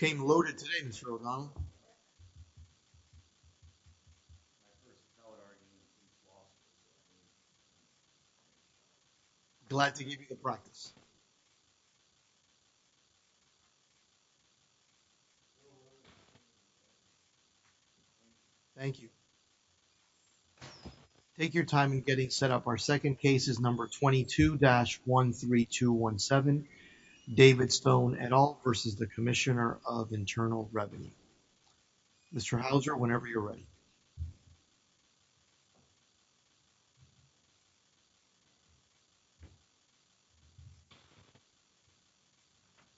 You came loaded today, Mr. O'Donnell. Glad to give you the practice. Thank you. Take your time in getting set up. Our second case is number 22-13217, David Stone et al versus the Commissioner of Internal Revenue. Mr. Hauser, whenever you're ready.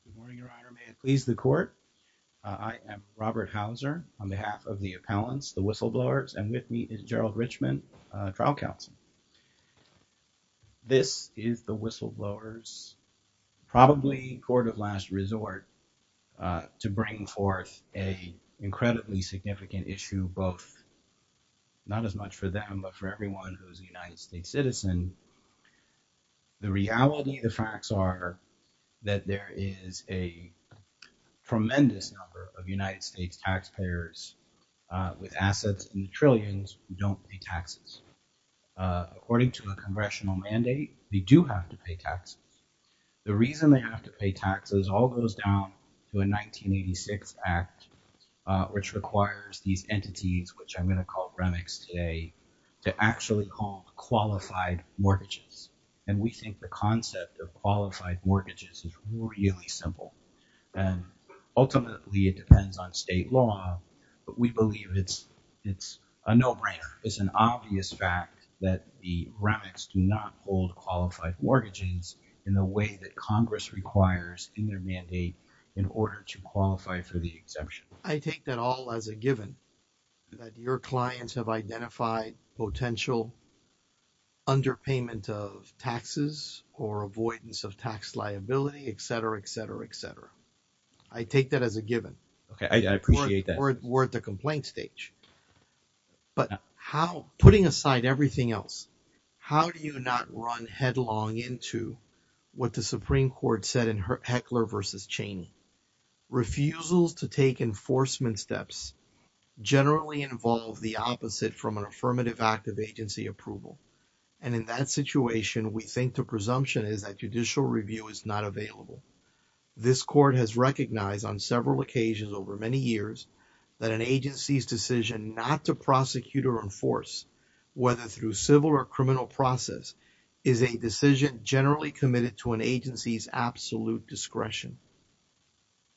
Good morning, Your Honor. May it please the Court, I am Robert Hauser on behalf of the appellants, the Whistleblowers, and with me is Gerald Richman, trial counsel. This is the Whistleblowers' probably court of last resort to bring forth an incredibly significant issue, both not as much for them, but for everyone who is a United States citizen. The reality, the facts are that there is a tremendous number of United States taxpayers with assets in the trillions who don't pay taxes. According to a Congressional mandate, they do have to pay taxes. The reason they have to pay taxes all goes down to a 1986 Act, which requires these entities, which I'm going to call REMICS today, to actually call qualified mortgages. And we think the concept of qualified mortgages is really simple, and ultimately it depends on state law, but we believe it's a no-brainer. It's an obvious fact that the REMICS do not hold qualified mortgages in the way that Congress requires in their mandate in order to qualify for the exemption. I take that all as a given, that your clients have identified potential underpayment of taxes or avoidance of tax liability, et cetera, et cetera, et cetera. I take that as a given. Okay, I appreciate that. We're at the complaint stage. But putting aside everything else, how do you not run headlong into what the Supreme Court said in Heckler v. Cheney? Refusals to take enforcement steps generally involve the opposite from an affirmative act of agency approval. And in that situation, we think the presumption is that judicial review is not available. This court has recognized on several occasions over many years that an agency's decision not to prosecute or enforce, whether through civil or criminal process, is a decision generally committed to an agency's absolute discretion.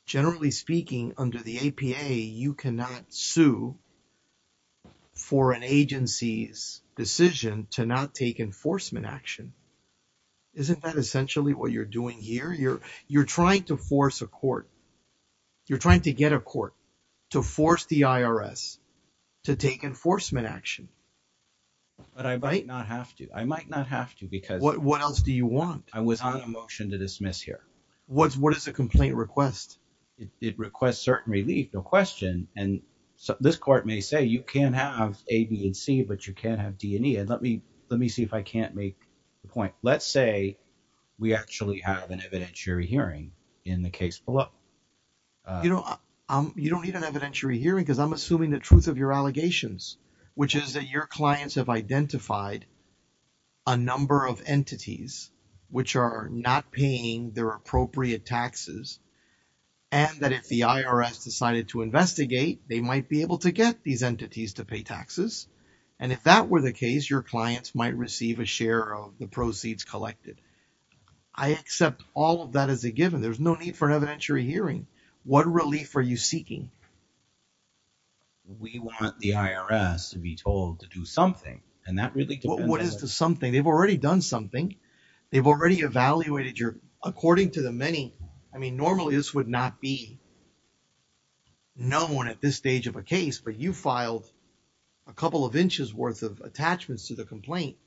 Generally speaking, under the APA, you cannot sue for an agency's decision to not take enforcement action. Isn't that essentially what you're doing here? You're trying to force a court, you're trying to get a court to force the IRS to take enforcement action. But I might not have to. I might not have to because... What else do you want? I was on a motion to dismiss here. What is a complaint request? It requests certain relief, no question. And this court may say, you can have A, B, and C, but you can't have D and E. And let me see if I can't make the point. Let's say we actually have an evidentiary hearing in the case below. You don't need an evidentiary hearing because I'm assuming the truth of your allegations, which is that your clients have identified a number of entities which are not paying their appropriate taxes, and that if the IRS decided to investigate, they might be able to get these entities to pay taxes. And if that were the case, your clients might receive a share of the proceeds collected. I accept all of that as a given. There's no need for an evidentiary hearing. What relief are you seeking? We want the IRS to be told to do something. And that really depends on... What is the something? They've already done something. They've already evaluated your... According to the many... Normally, this would not be known at this stage of a case, but you filed a couple of inches worth of attachments to the complaint.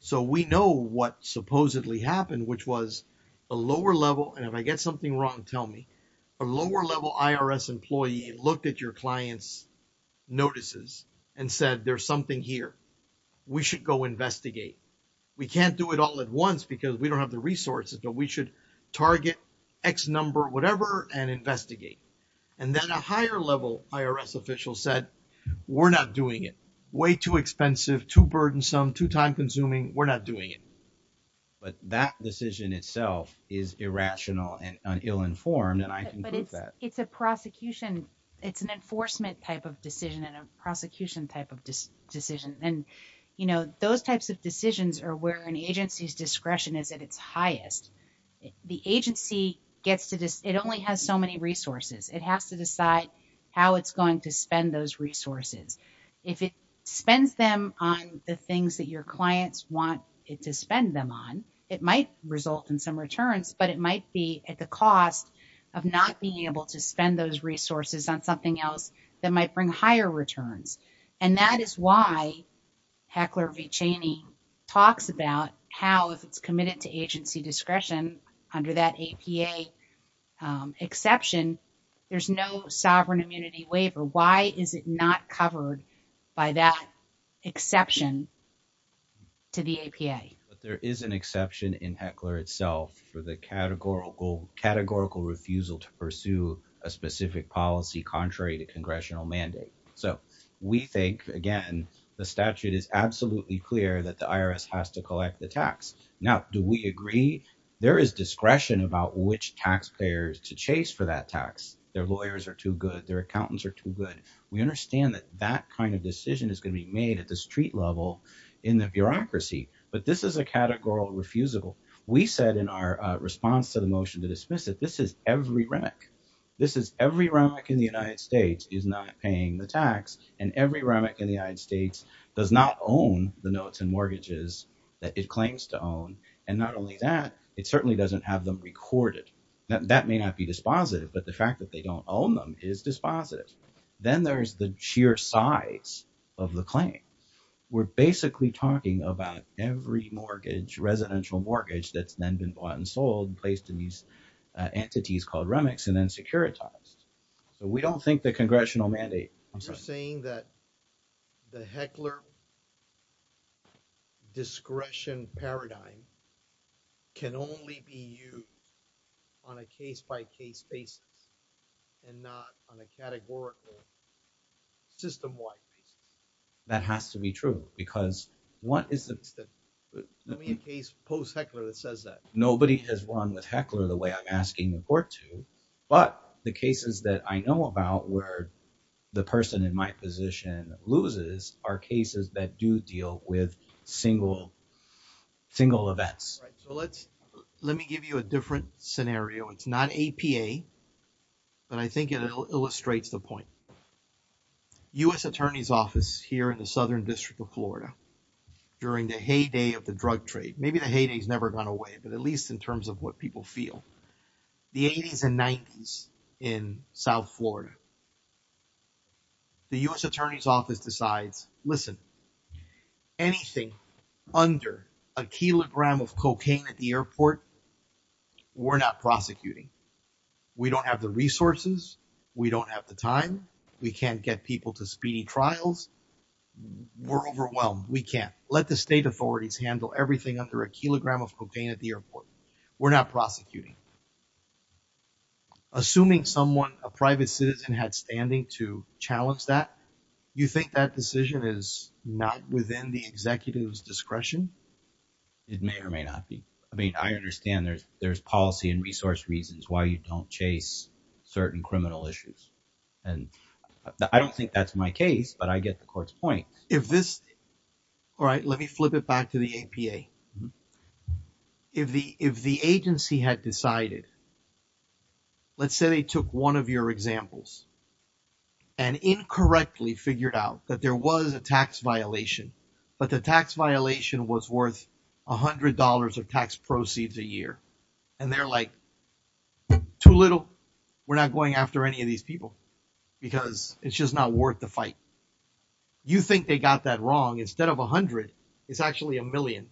So we know what supposedly happened, which was a lower level... And if I get something wrong, tell me. A lower level IRS employee looked at your client's notices and said, there's something here. We should go investigate. We can't do it all at once because we don't have the resources, but we should target X number, whatever, and investigate. And then a higher level IRS official said, we're not doing it. Way too expensive, too burdensome, too time consuming. We're not doing it. But that decision itself is irrational and ill-informed, and I can prove that. It's a prosecution. It's an enforcement type of decision and a prosecution type of decision. Those types of decisions are where an agency's discretion is at its highest. The agency gets to... It only has so many resources. It has to decide how it's going to spend those resources. If it spends them on the things that your clients want it to spend them on, it might result in some returns, but it might be at the cost of not being able to spend those resources on something else that might bring higher returns. And that is why Heckler v. Cheney talks about how, if it's committed to agency discretion under that APA exception, there's no sovereign immunity waiver. Why is it not covered by that exception to the APA? There is an exception in Heckler itself for the categorical refusal to pursue a specific policy contrary to congressional mandate. So we think, again, the statute is absolutely clear that the IRS has to collect the tax. Now, do we agree? There is discretion about which taxpayers to chase for that tax. Their lawyers are too good. Their accountants are too good. We understand that that kind of decision is going to be made at the street level in the bureaucracy, but this is a categorical refusal. We said in our response to the motion to dismiss it, this is every rec. This is every remic in the United States is not paying the tax, and every remic in the United States does not own the notes and mortgages that it claims to own. And not only that, it certainly doesn't have them recorded. That may not be dispositive, but the fact that they don't own them is dispositive. Then there's the sheer size of the claim. We're basically talking about every residential mortgage that's then been bought and sold and placed in these entities called remics and then securitized. So we don't think the congressional mandate... You're saying that the Heckler discretion paradigm can only be used on a case-by-case basis and not on a categorical system-wide basis? That has to be true, because what is the... I mean a case post-Heckler that says that. Nobody has run with Heckler the way I'm asking the court to, but the cases that I know about where the person in my position loses are cases that do deal with single events. Right. So let me give you a different scenario. It's not APA, but I think it illustrates the point. U.S. Attorney's Office here in the Southern District of Florida, during the heyday of drug trade. Maybe the heyday has never gone away, but at least in terms of what people feel. The 80s and 90s in South Florida. The U.S. Attorney's Office decides, listen, anything under a kilogram of cocaine at the airport, we're not prosecuting. We don't have the resources. We don't have the time. We can't get people to speedy trials. We're overwhelmed. We can't. The state authorities handle everything under a kilogram of cocaine at the airport. We're not prosecuting. Assuming someone, a private citizen had standing to challenge that, you think that decision is not within the executive's discretion? It may or may not be. I mean, I understand there's policy and resource reasons why you don't chase certain criminal issues, and I don't think that's my case, but I get the court's point. If this, all right, let me flip it back to the APA. If the agency had decided, let's say they took one of your examples and incorrectly figured out that there was a tax violation, but the tax violation was worth $100 of tax proceeds a year, and they're like, too little. We're not going after any of these people because it's just not worth the fight. You think they got that wrong? Instead of 100, it's actually a million.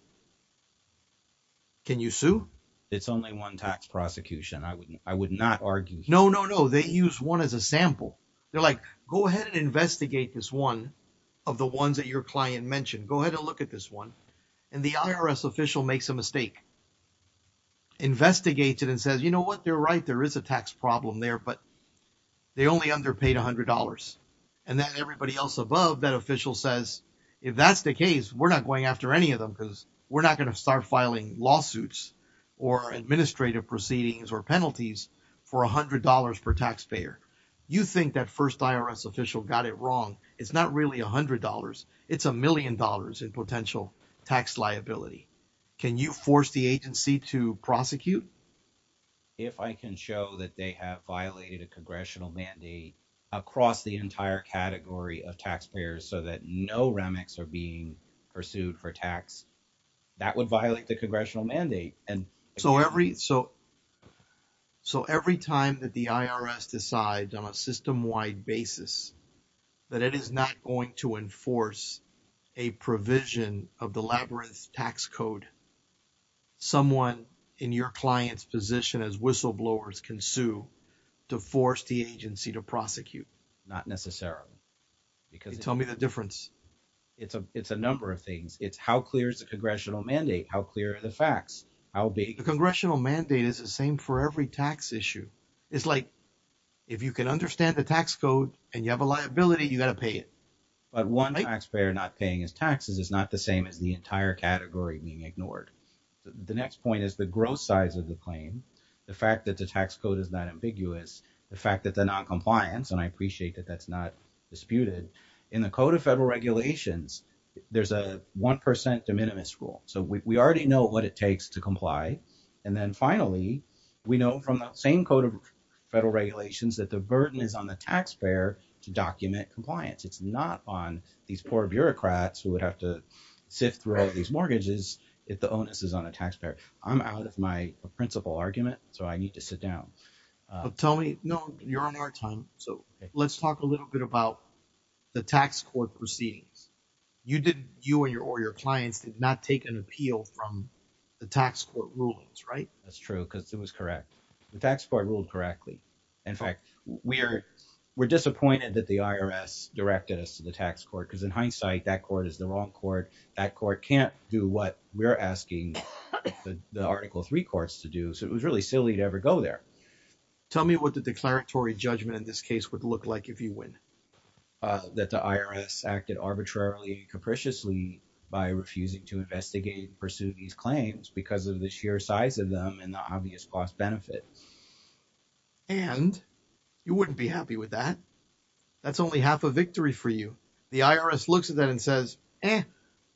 Can you sue? It's only one tax prosecution. I would not argue. No, no, no. They use one as a sample. They're like, go ahead and investigate this one of the ones that your client mentioned. Go ahead and look at this one. And the IRS official makes a mistake. Investigates it and says, you know what? They're right. There is a tax problem there, but they only underpaid $100. And then everybody else above that official says, if that's the case, we're not going after any of them because we're not going to start filing lawsuits or administrative proceedings or penalties for $100 per taxpayer. You think that first IRS official got it wrong. It's not really $100. It's a million dollars in potential tax liability. Can you force the agency to prosecute? If I can show that they have violated a congressional mandate across the entire category of taxpayers so that no remits are being pursued for tax, that would violate the congressional mandate. And so every time that the IRS decides on a system-wide basis that it is not going to as whistleblowers can sue to force the agency to prosecute. Not necessarily. Because tell me the difference. It's a number of things. It's how clear is the congressional mandate? How clear are the facts? The congressional mandate is the same for every tax issue. It's like if you can understand the tax code and you have a liability, you got to pay it. The next point is the growth size of the claim. The fact that the tax code is not ambiguous. The fact that the noncompliance and I appreciate that that's not disputed. In the code of federal regulations, there's a 1% de minimis rule. So we already know what it takes to comply. And then finally, we know from the same code of federal regulations that the burden is on the taxpayer to document compliance. It's not on these poor bureaucrats who would have to sift through all these mortgages. If the onus is on a taxpayer, I'm out of my principal argument. So I need to sit down. Tell me. No, you're on our time. So let's talk a little bit about the tax court proceedings. You didn't you and your or your clients did not take an appeal from the tax court rulings, right? That's true because it was correct. The tax court ruled correctly. In fact, we're disappointed that the IRS directed us to the tax court because in hindsight, that court is the wrong court. That court can't do what we're asking the article three courts to do. So it was really silly to ever go there. Tell me what the declaratory judgment in this case would look like if you win. That the IRS acted arbitrarily and capriciously by refusing to investigate and pursue these claims because of the sheer size of them and the obvious cost benefit. And you wouldn't be happy with that. That's only half a victory for you. The IRS looks at that and says, eh,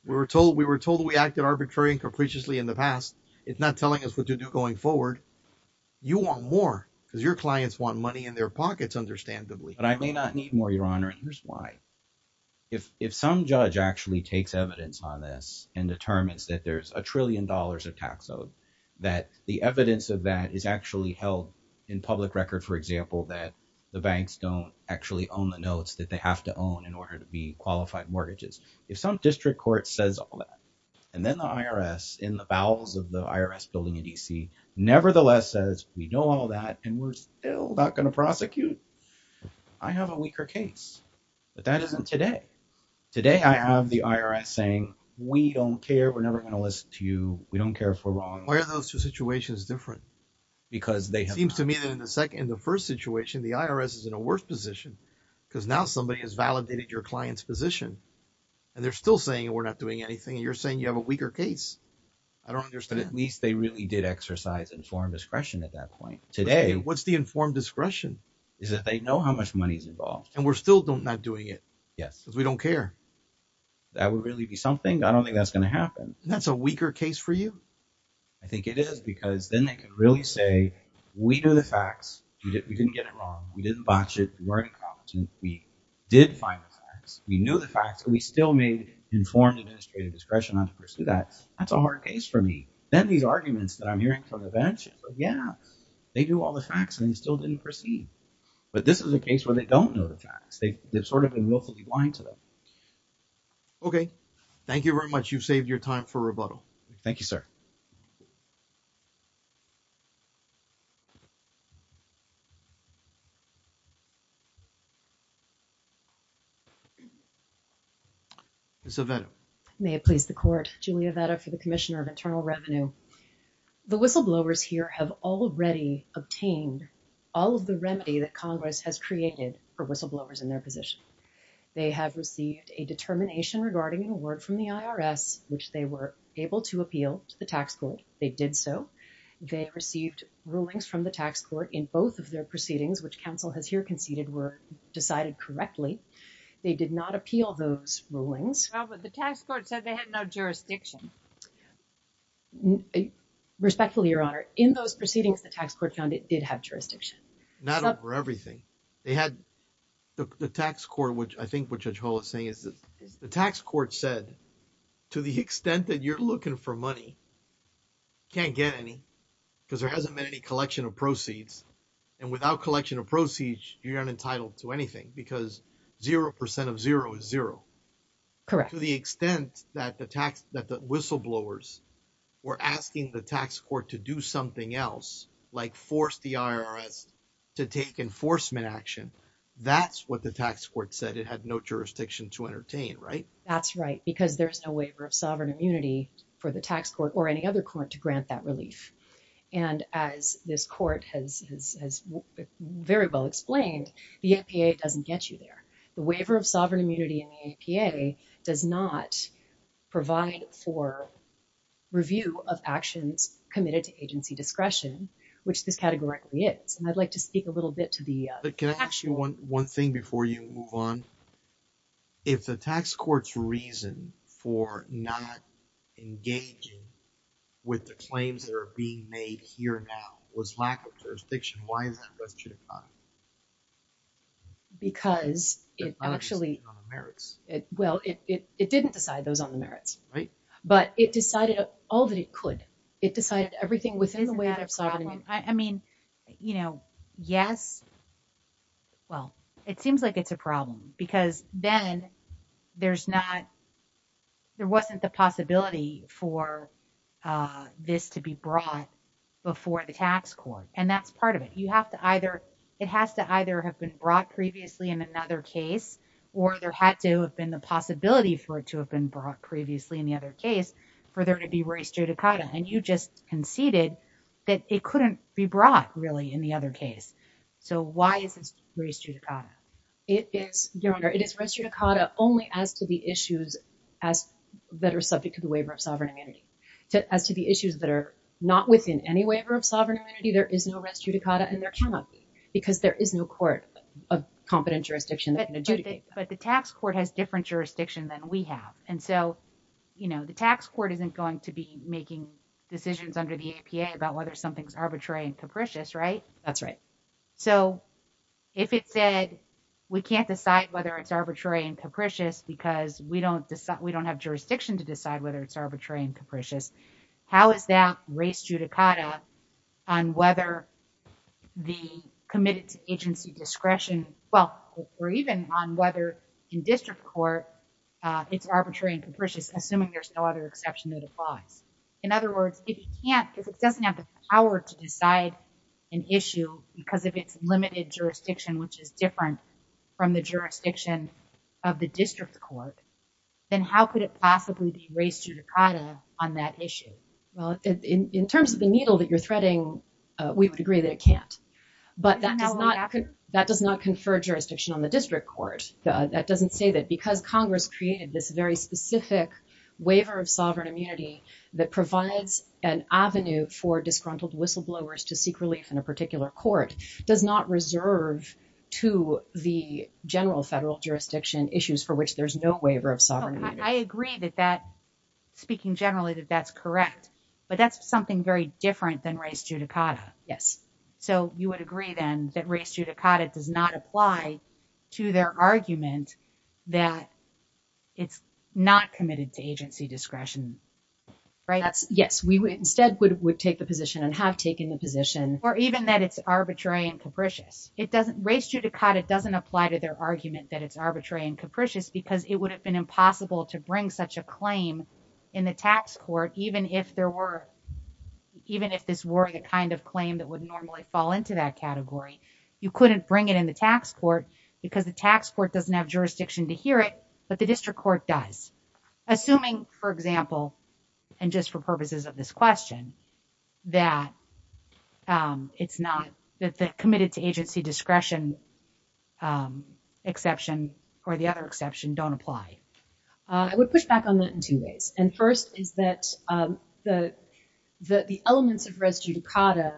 we were told we were told we acted arbitrarily and capriciously in the past. It's not telling us what to do going forward. You want more because your clients want money in their pockets, understandably. But I may not need more, Your Honor. Here's why. If some judge actually takes evidence on this and determines that there's a trillion dollars of tax owed, that the evidence of that is actually held in public record, for example, that the banks don't actually own the notes that they have to own in order to be qualified mortgages. If some district court says all that and then the IRS in the bowels of the IRS building in D.C. nevertheless says we know all that and we're still not going to prosecute. I have a weaker case, but that isn't today. Today, I have the IRS saying we don't care. We're never going to listen to you. We don't care if we're wrong. Why are those two situations different? Because they seem to me that in the second, the first situation, the IRS is in a worse position because now somebody has validated your client's position and they're still saying we're not doing anything. And you're saying you have a weaker case. I don't understand. At least they really did exercise informed discretion at that point today. What's the informed discretion? Is that they know how much money is involved and we're still not doing it. Yes, because we don't care. That would really be something. I don't think that's going to happen. That's a weaker case for you. I think it is because then they can really say we do the facts. We didn't get it wrong. We didn't botch it. We weren't incompetent. We did find the facts. We knew the facts and we still made informed administrative discretion on to pursue that. That's a hard case for me. Then these arguments that I'm hearing from the bench, yeah, they do all the facts and they still didn't proceed. But this is a case where they don't know the facts. They've sort of been willfully blind to them. Okay. Thank you very much. You've saved your time for rebuttal. Thank you, sir. Ms. Aveto. May it please the court. Julia Aveto for the Commissioner of Internal Revenue. The whistleblowers here have already obtained all of the remedy that Congress has created for whistleblowers in their position. They have received a determination regarding an award from the IRS, which they were able to appeal to the tax court. They did so. They received rulings from the tax court in both of their proceedings, which counsel has here conceded were decided correctly. They did not appeal those rulings. Well, but the tax court said they had no jurisdiction. Respectfully, Your Honor. In those proceedings, the tax court found it did have jurisdiction. Not over everything. They had the tax court, which I think what Judge Hall is saying is that the tax court said to the extent that you're looking for money, you can't get any because there hasn't been any collection of proceeds. And without collection of proceeds, you're not entitled to anything because zero percent of zero is zero. Correct. To the extent that the whistleblowers were asking the tax court to do something else, like force the IRS to take enforcement action. That's what the tax court said. It had no jurisdiction to entertain, right? That's right, because there's no waiver of sovereign immunity for the tax court or any other court to grant that relief. And as this court has very well explained, the APA doesn't get you there. The waiver of sovereign immunity in the APA does not provide for review of actions committed to agency discretion, which this categorically is. And I'd like to speak a little bit to the actual. One thing before you move on. If the tax court's reason for not engaging with the claims that are being made here now was lack of jurisdiction, why is that? Because it actually merits it. Well, it didn't decide those on the merits, right? But it decided all that it could. It decided everything within the way that I mean, you know, yes. Well, it seems like it's a problem because then there's not there wasn't the possibility for this to be brought before the tax court. And that's part of it. You have to either it has to either have been brought previously in another case, or there had to have been the possibility for it to have been brought previously in the other case for there to be race judicata. And you just conceded that it couldn't be brought really in the other case. So why is this race judicata? It is your honor. It is race judicata only as to the issues as that are subject to the waiver of sovereign immunity as to the issues that are not within any waiver of sovereign immunity. There is no race judicata and there cannot be because there is no court of competent jurisdiction. But the tax court has different jurisdiction than we have. And so, you know, the tax court isn't going to be making decisions under the APA about whether something's arbitrary and capricious, right? That's right. So if it said, we can't decide whether it's arbitrary and capricious because we don't decide, we don't have jurisdiction to decide whether it's arbitrary and capricious. How is that race judicata on whether the committed to agency discretion? Well, or even on whether in district court, it's arbitrary and capricious, assuming there's no other exception that applies. In other words, if you can't, if it doesn't have the power to decide an issue because of its limited jurisdiction, which is different from the jurisdiction of the district court, then how could it possibly be race judicata on that issue? Well, in terms of the needle that you're threading, we would agree that it can't. But that does not confer jurisdiction on the district court. That doesn't say that because Congress created this very specific waiver of sovereign immunity that provides an avenue for disgruntled whistleblowers to seek relief in a particular court does not reserve to the general federal jurisdiction issues for which there's no waiver of sovereign. I agree that that speaking generally, that that's correct, but that's something very different than race judicata. Yes. So you would agree then that race judicata does not apply to their argument that it's not committed to agency discretion, right? That's yes. We would instead would take the position and have taken the position. Or even that it's arbitrary and capricious. It doesn't race judicata doesn't apply to their argument that it's arbitrary and capricious because it would have been impossible to bring such a claim in the tax court, even if there were even if this were the kind of claim that would normally fall into that category. You couldn't bring it in the tax court because the tax court doesn't have jurisdiction to it, but the district court does. Assuming, for example, and just for purposes of this question, that it's not that the committed to agency discretion exception or the other exception don't apply. I would push back on that in two ways. And first is that the elements of race judicata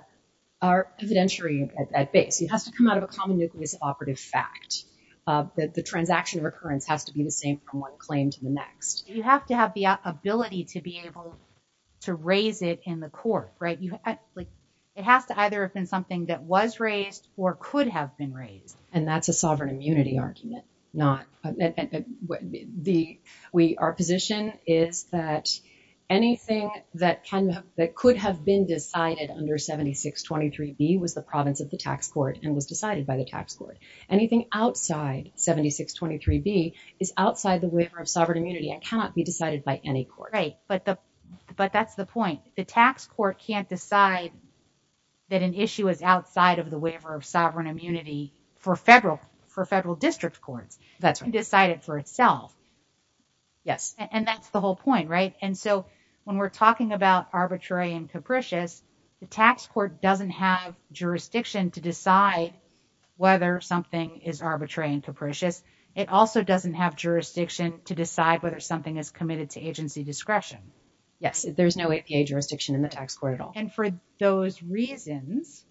are evidentiary at base. It has to come out of a common nucleus operative fact that the transaction of occurrence has to be the same from one claim to the next. You have to have the ability to be able to raise it in the court, right? It has to either have been something that was raised or could have been raised. And that's a sovereign immunity argument. Not the way our position is that anything that can that could have been decided under 7623B was the province of the tax court and was decided by the tax court. Anything outside 7623B is outside the waiver of sovereign immunity and cannot be decided by any court. Right, but that's the point. The tax court can't decide that an issue is outside of the waiver of sovereign immunity for federal district courts and decide it for itself. Yes. And that's the whole point, right? And so when we're talking about arbitrary and capricious, the tax court doesn't have arbitrary and capricious. It also doesn't have jurisdiction to decide whether something is committed to agency discretion. Yes, there's no APA jurisdiction in the tax court at all. And for those reasons,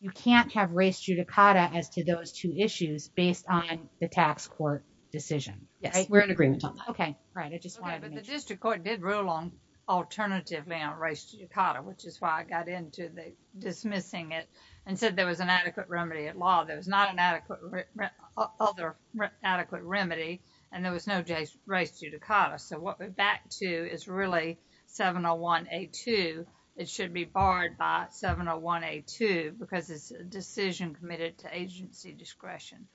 you can't have res judicata as to those two issues based on the tax court decision. Yes, we're in agreement. Okay, right. I just wanted to make sure. But the district court did rule on alternative res judicata, which is why I got into the and said there was an adequate remedy at law. There was not an adequate, other adequate remedy and there was no res judicata. So, what we're back to is really 701A2. It should be barred by 701A2 because it's a decision committed to agency discretion.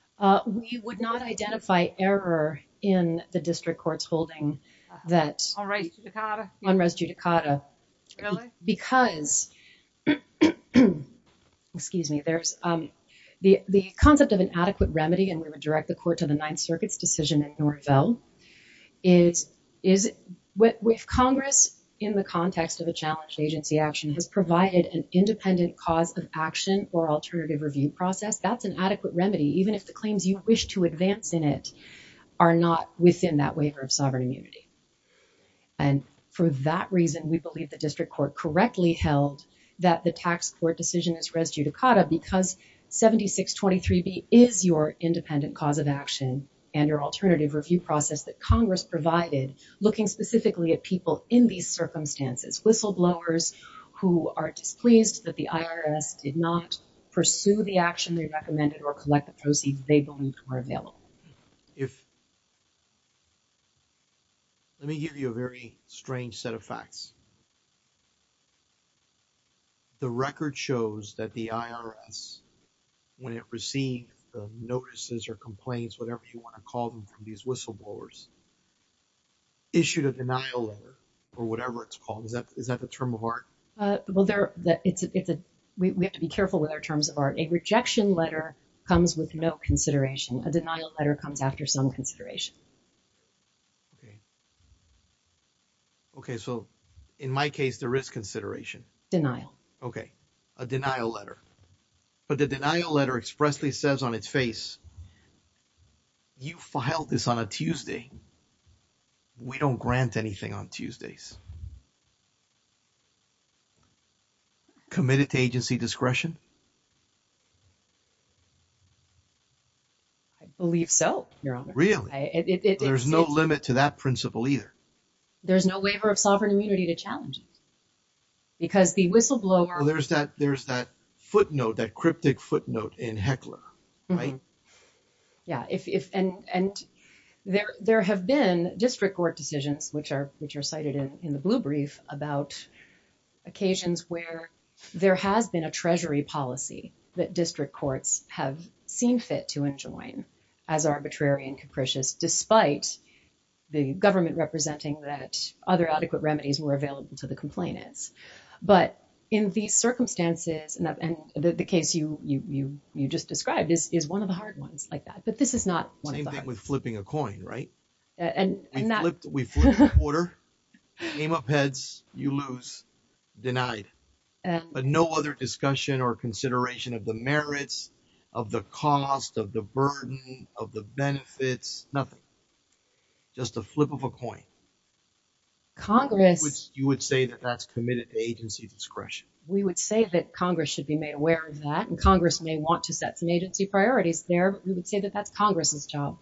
We would not identify error in the district court's holding that. On res judicata? On res judicata. Really? Because, excuse me, there's the concept of an adequate remedy and we would direct the court to the Ninth Circuit's decision in Norvell, is if Congress, in the context of a challenged agency action, has provided an independent cause of action or alternative review process, that's an adequate remedy, even if the claims you wish to advance in it are not within that waiver of sovereign immunity. And for that reason, we believe the district court correctly held that the tax court decision is res judicata because 7623B is your independent cause of action and your alternative review process that Congress provided, looking specifically at people in these circumstances, whistleblowers who are displeased that the IRS did not pursue the action they recommended or collect the proceeds they believed were available. If, let me give you a very strange set of facts. The record shows that the IRS, when it received the notices or complaints, whatever you want to call them, from these whistleblowers, issued a denial letter or whatever it's called. Is that the term of art? Well, we have to be careful with our terms of art. A rejection letter comes with no consideration. A denial letter comes after some consideration. Okay. Okay, so in my case, there is consideration. Denial. Okay. A denial letter. But the denial letter expressly says on its face, you filed this on a Tuesday. We don't grant anything on Tuesdays. Committed to agency discretion. I believe so, Your Honor. Really? There's no limit to that principle either. There's no waiver of sovereign immunity to challenge it. Because the whistleblower- There's that footnote, that cryptic footnote in Heckler, right? Yeah, and there have been district court decisions, which are cited in the blue brief, about occasions where there has been a treasury policy that district courts have seen fit to enjoin as arbitrary and capricious, despite the government representing that other adequate remedies were available to the complainants. But in these circumstances, and the case you just described is one of the hard ones like that. But this is not one of the hard ones. Same thing with flipping a coin, right? And that- We flipped a quarter, came up heads, you lose, denied. But no other discussion or consideration of the merits, of the cost, of the burden, of the benefits, nothing. Just a flip of a coin. Congress- You would say that that's committed to agency discretion. We would say that Congress should be made aware of that. And Congress may want to set some agency priorities there. We would say that that's Congress's job.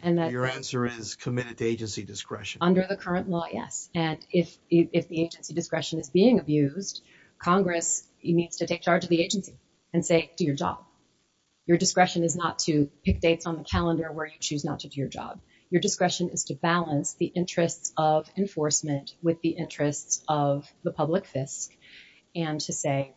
And that- Your answer is committed to agency discretion. Under the current law, yes. And if the agency discretion is being abused, Congress needs to take charge of the agency and say, do your job. Your discretion is not to pick dates on the calendar where you choose not to do your job. Your discretion is to balance the interests of enforcement with the interests of the public fisc, and to say,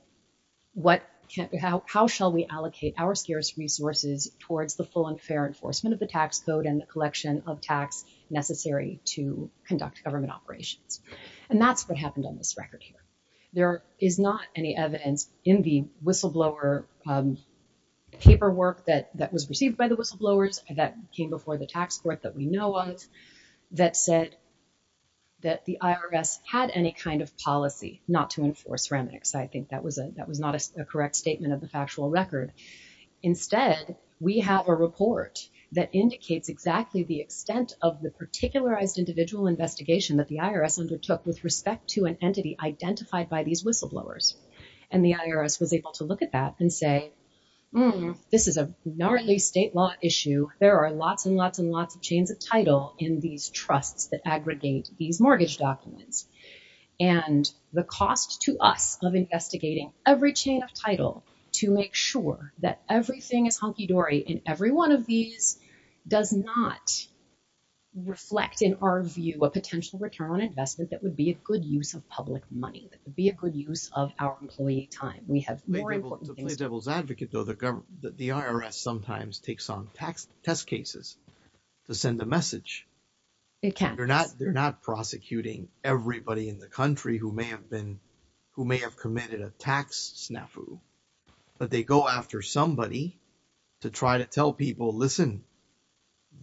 how shall we allocate our scarce resources towards the full and fair enforcement of the tax code and the collection of tax necessary to conduct government operations? And that's what happened on this record here. There is not any evidence in the whistleblower paperwork that was received by the whistleblowers that came before the tax court that we know of that said that the IRS had any kind of policy not to enforce remnants. I think that was not a correct statement of the factual record. Instead, we have a report that indicates exactly the extent of the particularized individual investigation that the IRS undertook with respect to an entity identified by these whistleblowers. And the IRS was able to look at that and say, this is a gnarly state law issue. There are lots and lots and lots of chains of title in these trusts that aggregate these mortgage documents. And the cost to us of investigating every chain of title to make sure that everything is hunky-dory in every one of these does not reflect, in our view, a potential return on investment that would be a good use of public money, that would be a good use of our employee time. We have more important things to do. To play devil's advocate, though, the IRS sometimes takes on tax test cases to send a message. It can. They're not prosecuting everybody in the country who may have committed a tax snafu. But they go after somebody to try to tell people, listen,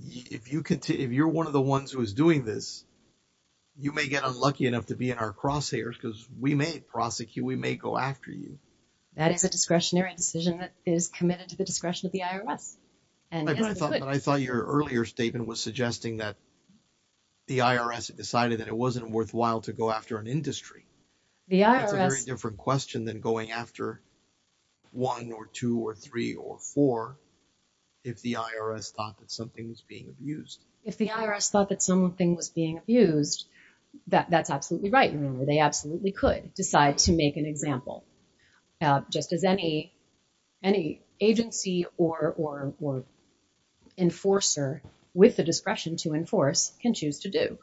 if you're one of the ones who is doing this, you may get unlucky enough to be in our crosshairs because we may prosecute, we may go after you. That is a discretionary decision that is committed to the discretion of the IRS. But I thought your earlier statement was suggesting that the IRS decided that it wasn't worthwhile to go after an industry. That's a very different question than going after one or two or three or four if the IRS thought that something was being abused. If the IRS thought that something was being abused, that's absolutely right. They absolutely could decide to make an example, just as any agency or enforcer with the discretion to enforce can choose to do.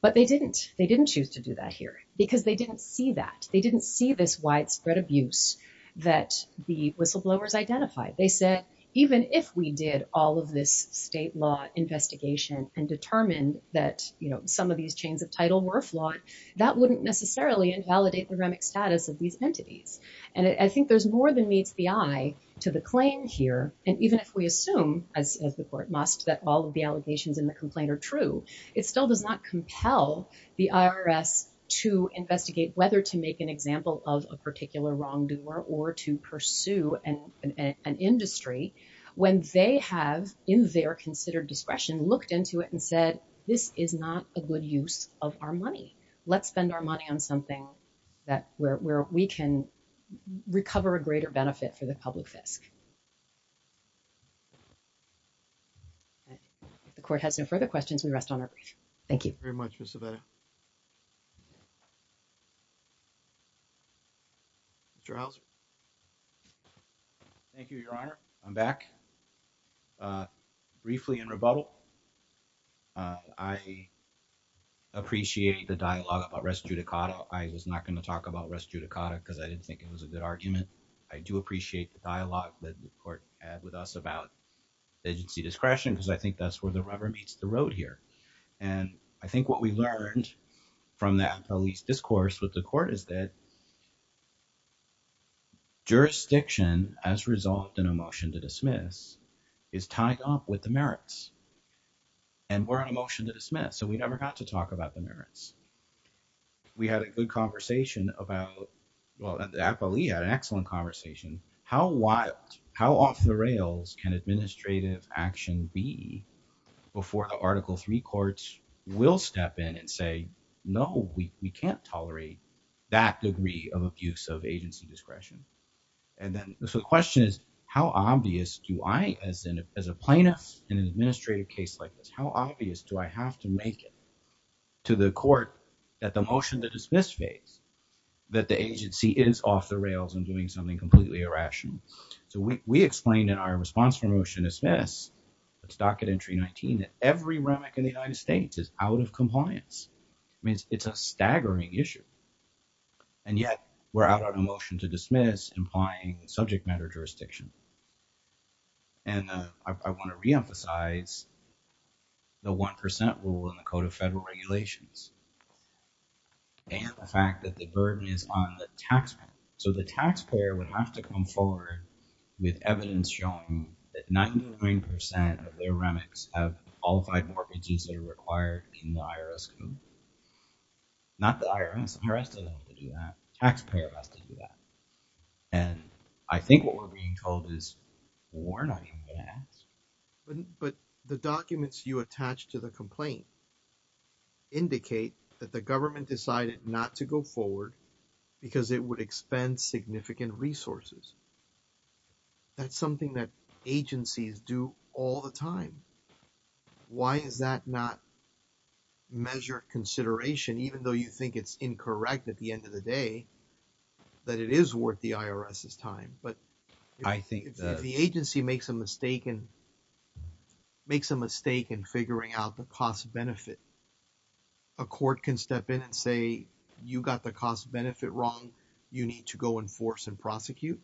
But they didn't. They didn't choose to do that here because they didn't see that. They didn't see this widespread abuse that the whistleblowers identified. They said, even if we did all of this state law investigation and determined that some of these chains of title were flawed, that wouldn't necessarily invalidate the remic status of these entities. And I think there's more than meets the eye to the claim here. And even if we assume, as the court must, that all of the allegations in the complaint are true, it still does not compel the IRS to investigate whether to make an example of a particular wrongdoer or to pursue an industry when they have, in their considered discretion, looked into it and said, this is not a good use of our money. Let's spend our money on something that, where we can recover a greater benefit for the public fisc. The court has no further questions. We rest on our brief. Thank you. Thank you very much, Mr. Vedder. Mr. Houser. Thank you, Your Honor. I'm back. Briefly in rebuttal, I appreciate the dialogue about res judicata. I was not going to talk about res judicata because I didn't think it was a good argument. I do appreciate the dialogue that the court had with us about agency discretion because I think that's where the rubber meets the road here. And I think what we learned from that police discourse with the court is that as resolved in a motion to dismiss is tied up with the merits. And we're on a motion to dismiss. So we never got to talk about the merits. We had a good conversation about, well, the FLE had an excellent conversation. How wild, how off the rails can administrative action be before the Article III courts will step in and say, no, we can't tolerate that degree of abuse of agency discretion. And then the question is, how obvious do I, as a plaintiff in an administrative case like this, how obvious do I have to make it to the court that the motion to dismiss phase, that the agency is off the rails and doing something completely irrational? So we explained in our response for motion to dismiss, it's docket entry 19, that every remic in the United States is out of compliance. I mean, it's a staggering issue. And yet we're out on a motion to dismiss implying subject matter jurisdiction. And I want to reemphasize the 1% rule in the Code of Federal Regulations. And the fact that the burden is on the taxpayer. So the taxpayer would have to come forward with evidence showing that 99% of their remics have qualified mortgages that are required in the IRS code. Not the IRS. The IRS doesn't have to do that. Taxpayer has to do that. And I think what we're being told is, we're not even going to ask. But the documents you attach to the complaint indicate that the government decided not to go forward because it would expend significant resources. That's something that agencies do all the time. Why is that not measured consideration? Even though you think it's incorrect at the end of the day, that it is worth the IRS's time. But I think the agency makes a mistake and makes a mistake in figuring out the cost benefit. A court can step in and say, you got the cost benefit wrong. You need to go enforce and prosecute.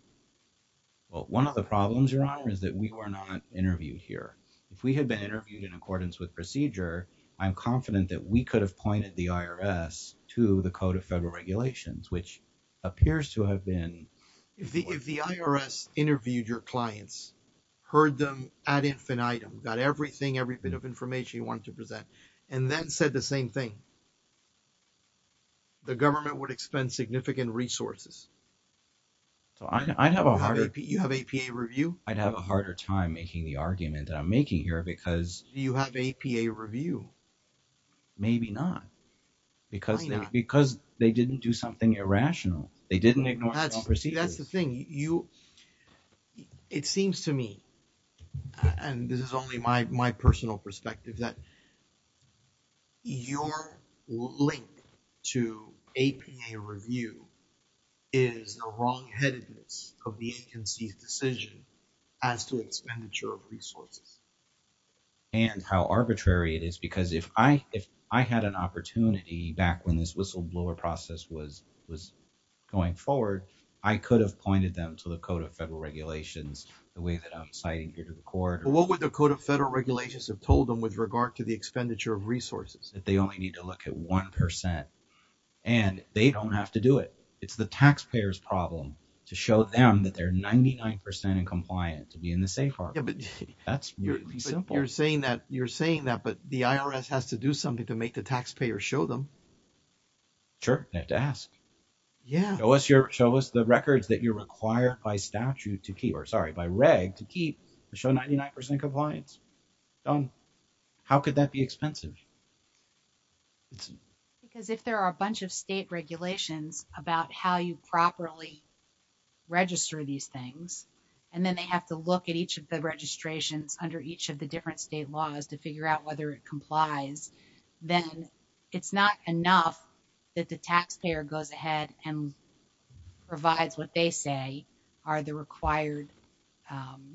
Well, one of the problems, Your Honor, is that we were not interviewed here. If we had been interviewed in accordance with procedure, I'm confident that we could have pointed the IRS to the Code of Federal Regulations, which appears to have been... If the IRS interviewed your clients, heard them ad infinitum, got everything, every bit of information you wanted to present, and then said the same thing, the government would expend significant resources. So I'd have a harder... You have APA review? I'd have a harder time making the argument that I'm making here because... Do you have APA review? Maybe not. Why not? Because they didn't do something irrational. They didn't ignore the procedures. That's the thing. It seems to me, and this is only my personal perspective, that your link to APA review is the wrongheadedness of the agency's decision as to expenditure of resources. And how arbitrary it is. Because if I had an opportunity back when this whistleblower process was going forward, I could have pointed them to the Code of Federal Regulations the way that I'm citing Peter McCord. What would the Code of Federal Regulations have told them with regard to the expenditure of resources? That they only need to look at 1%. And they don't have to do it. It's the taxpayers' problem to show them that they're 99% compliant to be in the safe harbor. That's really simple. But you're saying that, but the IRS has to do something to make the taxpayers show them. Sure. They have to ask. Yeah. Show us the records that you're required by statute to keep... Or sorry, by reg to keep to show 99% compliance. How could that be expensive? Because if there are a bunch of state regulations about how you properly register these things, and then they have to look at each of the registrations under each of the different state laws to figure out whether it complies, then it's not enough that the taxpayer goes ahead and provides what they say are the required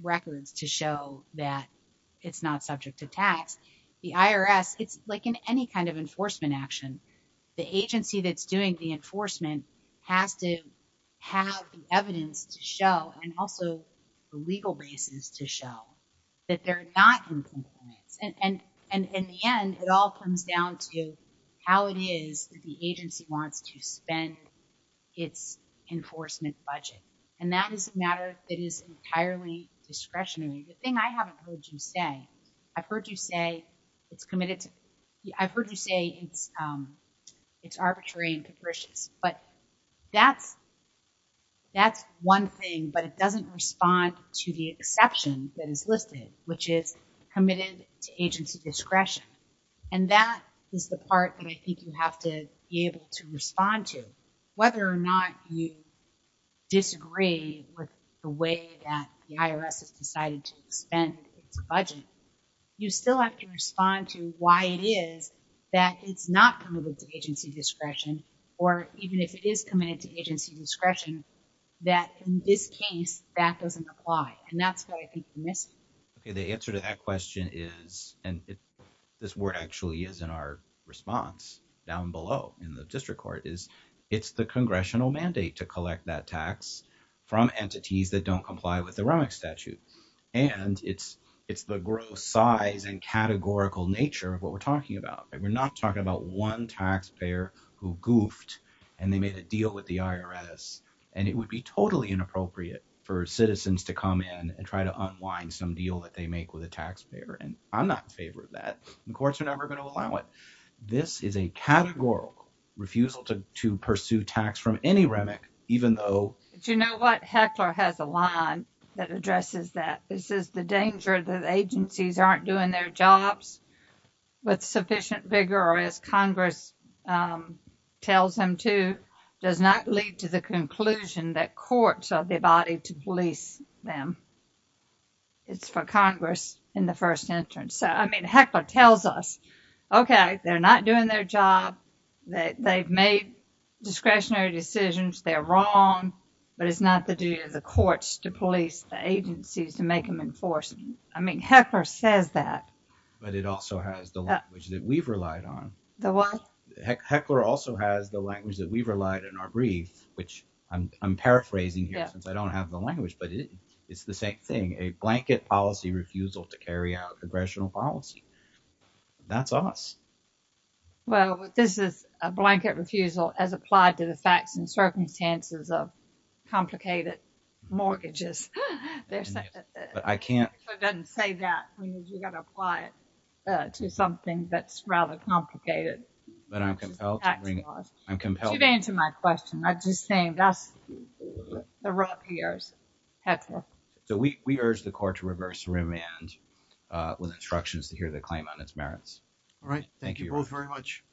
records to show that it's not subject to tax. The IRS, it's like in any kind of enforcement action, the agency that's doing the enforcement has to have the evidence to show, and also the legal basis to show that they're not in compliance. And in the end, it all comes down to how it is that the agency wants to spend its enforcement budget. And that is a matter that is entirely discretionary. The thing I haven't heard you say, I've heard you say it's arbitrary and capricious, but that's one thing, but it doesn't respond to the exception that is listed, which is committed to agency discretion. And that is the part that I think you have to be able to respond to. Whether or not you disagree with the way that the IRS has decided to spend its budget, you still have to respond to why it is that it's not committed to agency discretion, or even if it is committed to agency discretion, that in this case, that doesn't apply. And that's what I think you're missing. Okay. The answer to that question is, and this word actually is in our response down below in the district court, is it's the congressional mandate to collect that tax from entities that don't comply with the Romics statute. And it's the gross size and categorical nature of what we're talking about. We're not talking about one taxpayer who goofed, and they made a deal with the IRS, and it would be totally inappropriate for citizens to come in and try to unwind some deal that they make with a taxpayer. And I'm not in favor of that. The courts are never going to allow it. This is a categorical refusal to pursue tax from any Remic, even though... Do you know what? Heckler has a line that addresses that. This is the danger that agencies aren't doing their jobs with sufficient vigor, or as Congress tells them to, does not lead to the conclusion that courts are the body to police them. It's for Congress in the first instance. So, I mean, Heckler tells us, okay, they're not doing their job. They've made discretionary decisions. They're wrong, but it's not the duty of the courts to police the agencies to make them enforce them. I mean, Heckler says that. But it also has the language that we've relied on. The what? Heckler also has the language that we've relied on in our brief, which I'm paraphrasing here since I don't have the language, but it's the same thing. A blanket policy refusal to carry out congressional policy. That's us. Well, this is a blanket refusal as applied to the facts and circumstances of complicated mortgages. But I can't... If it doesn't say that, you've got to apply it to something that's rather complicated. But I'm compelled to bring... I'm compelled... You've answered my question. I'm just saying that's the rough years, Heckler. So, we urge the court to reverse remand with instructions to hear the claim on its merits. All right. Thank you. Thank you both very much.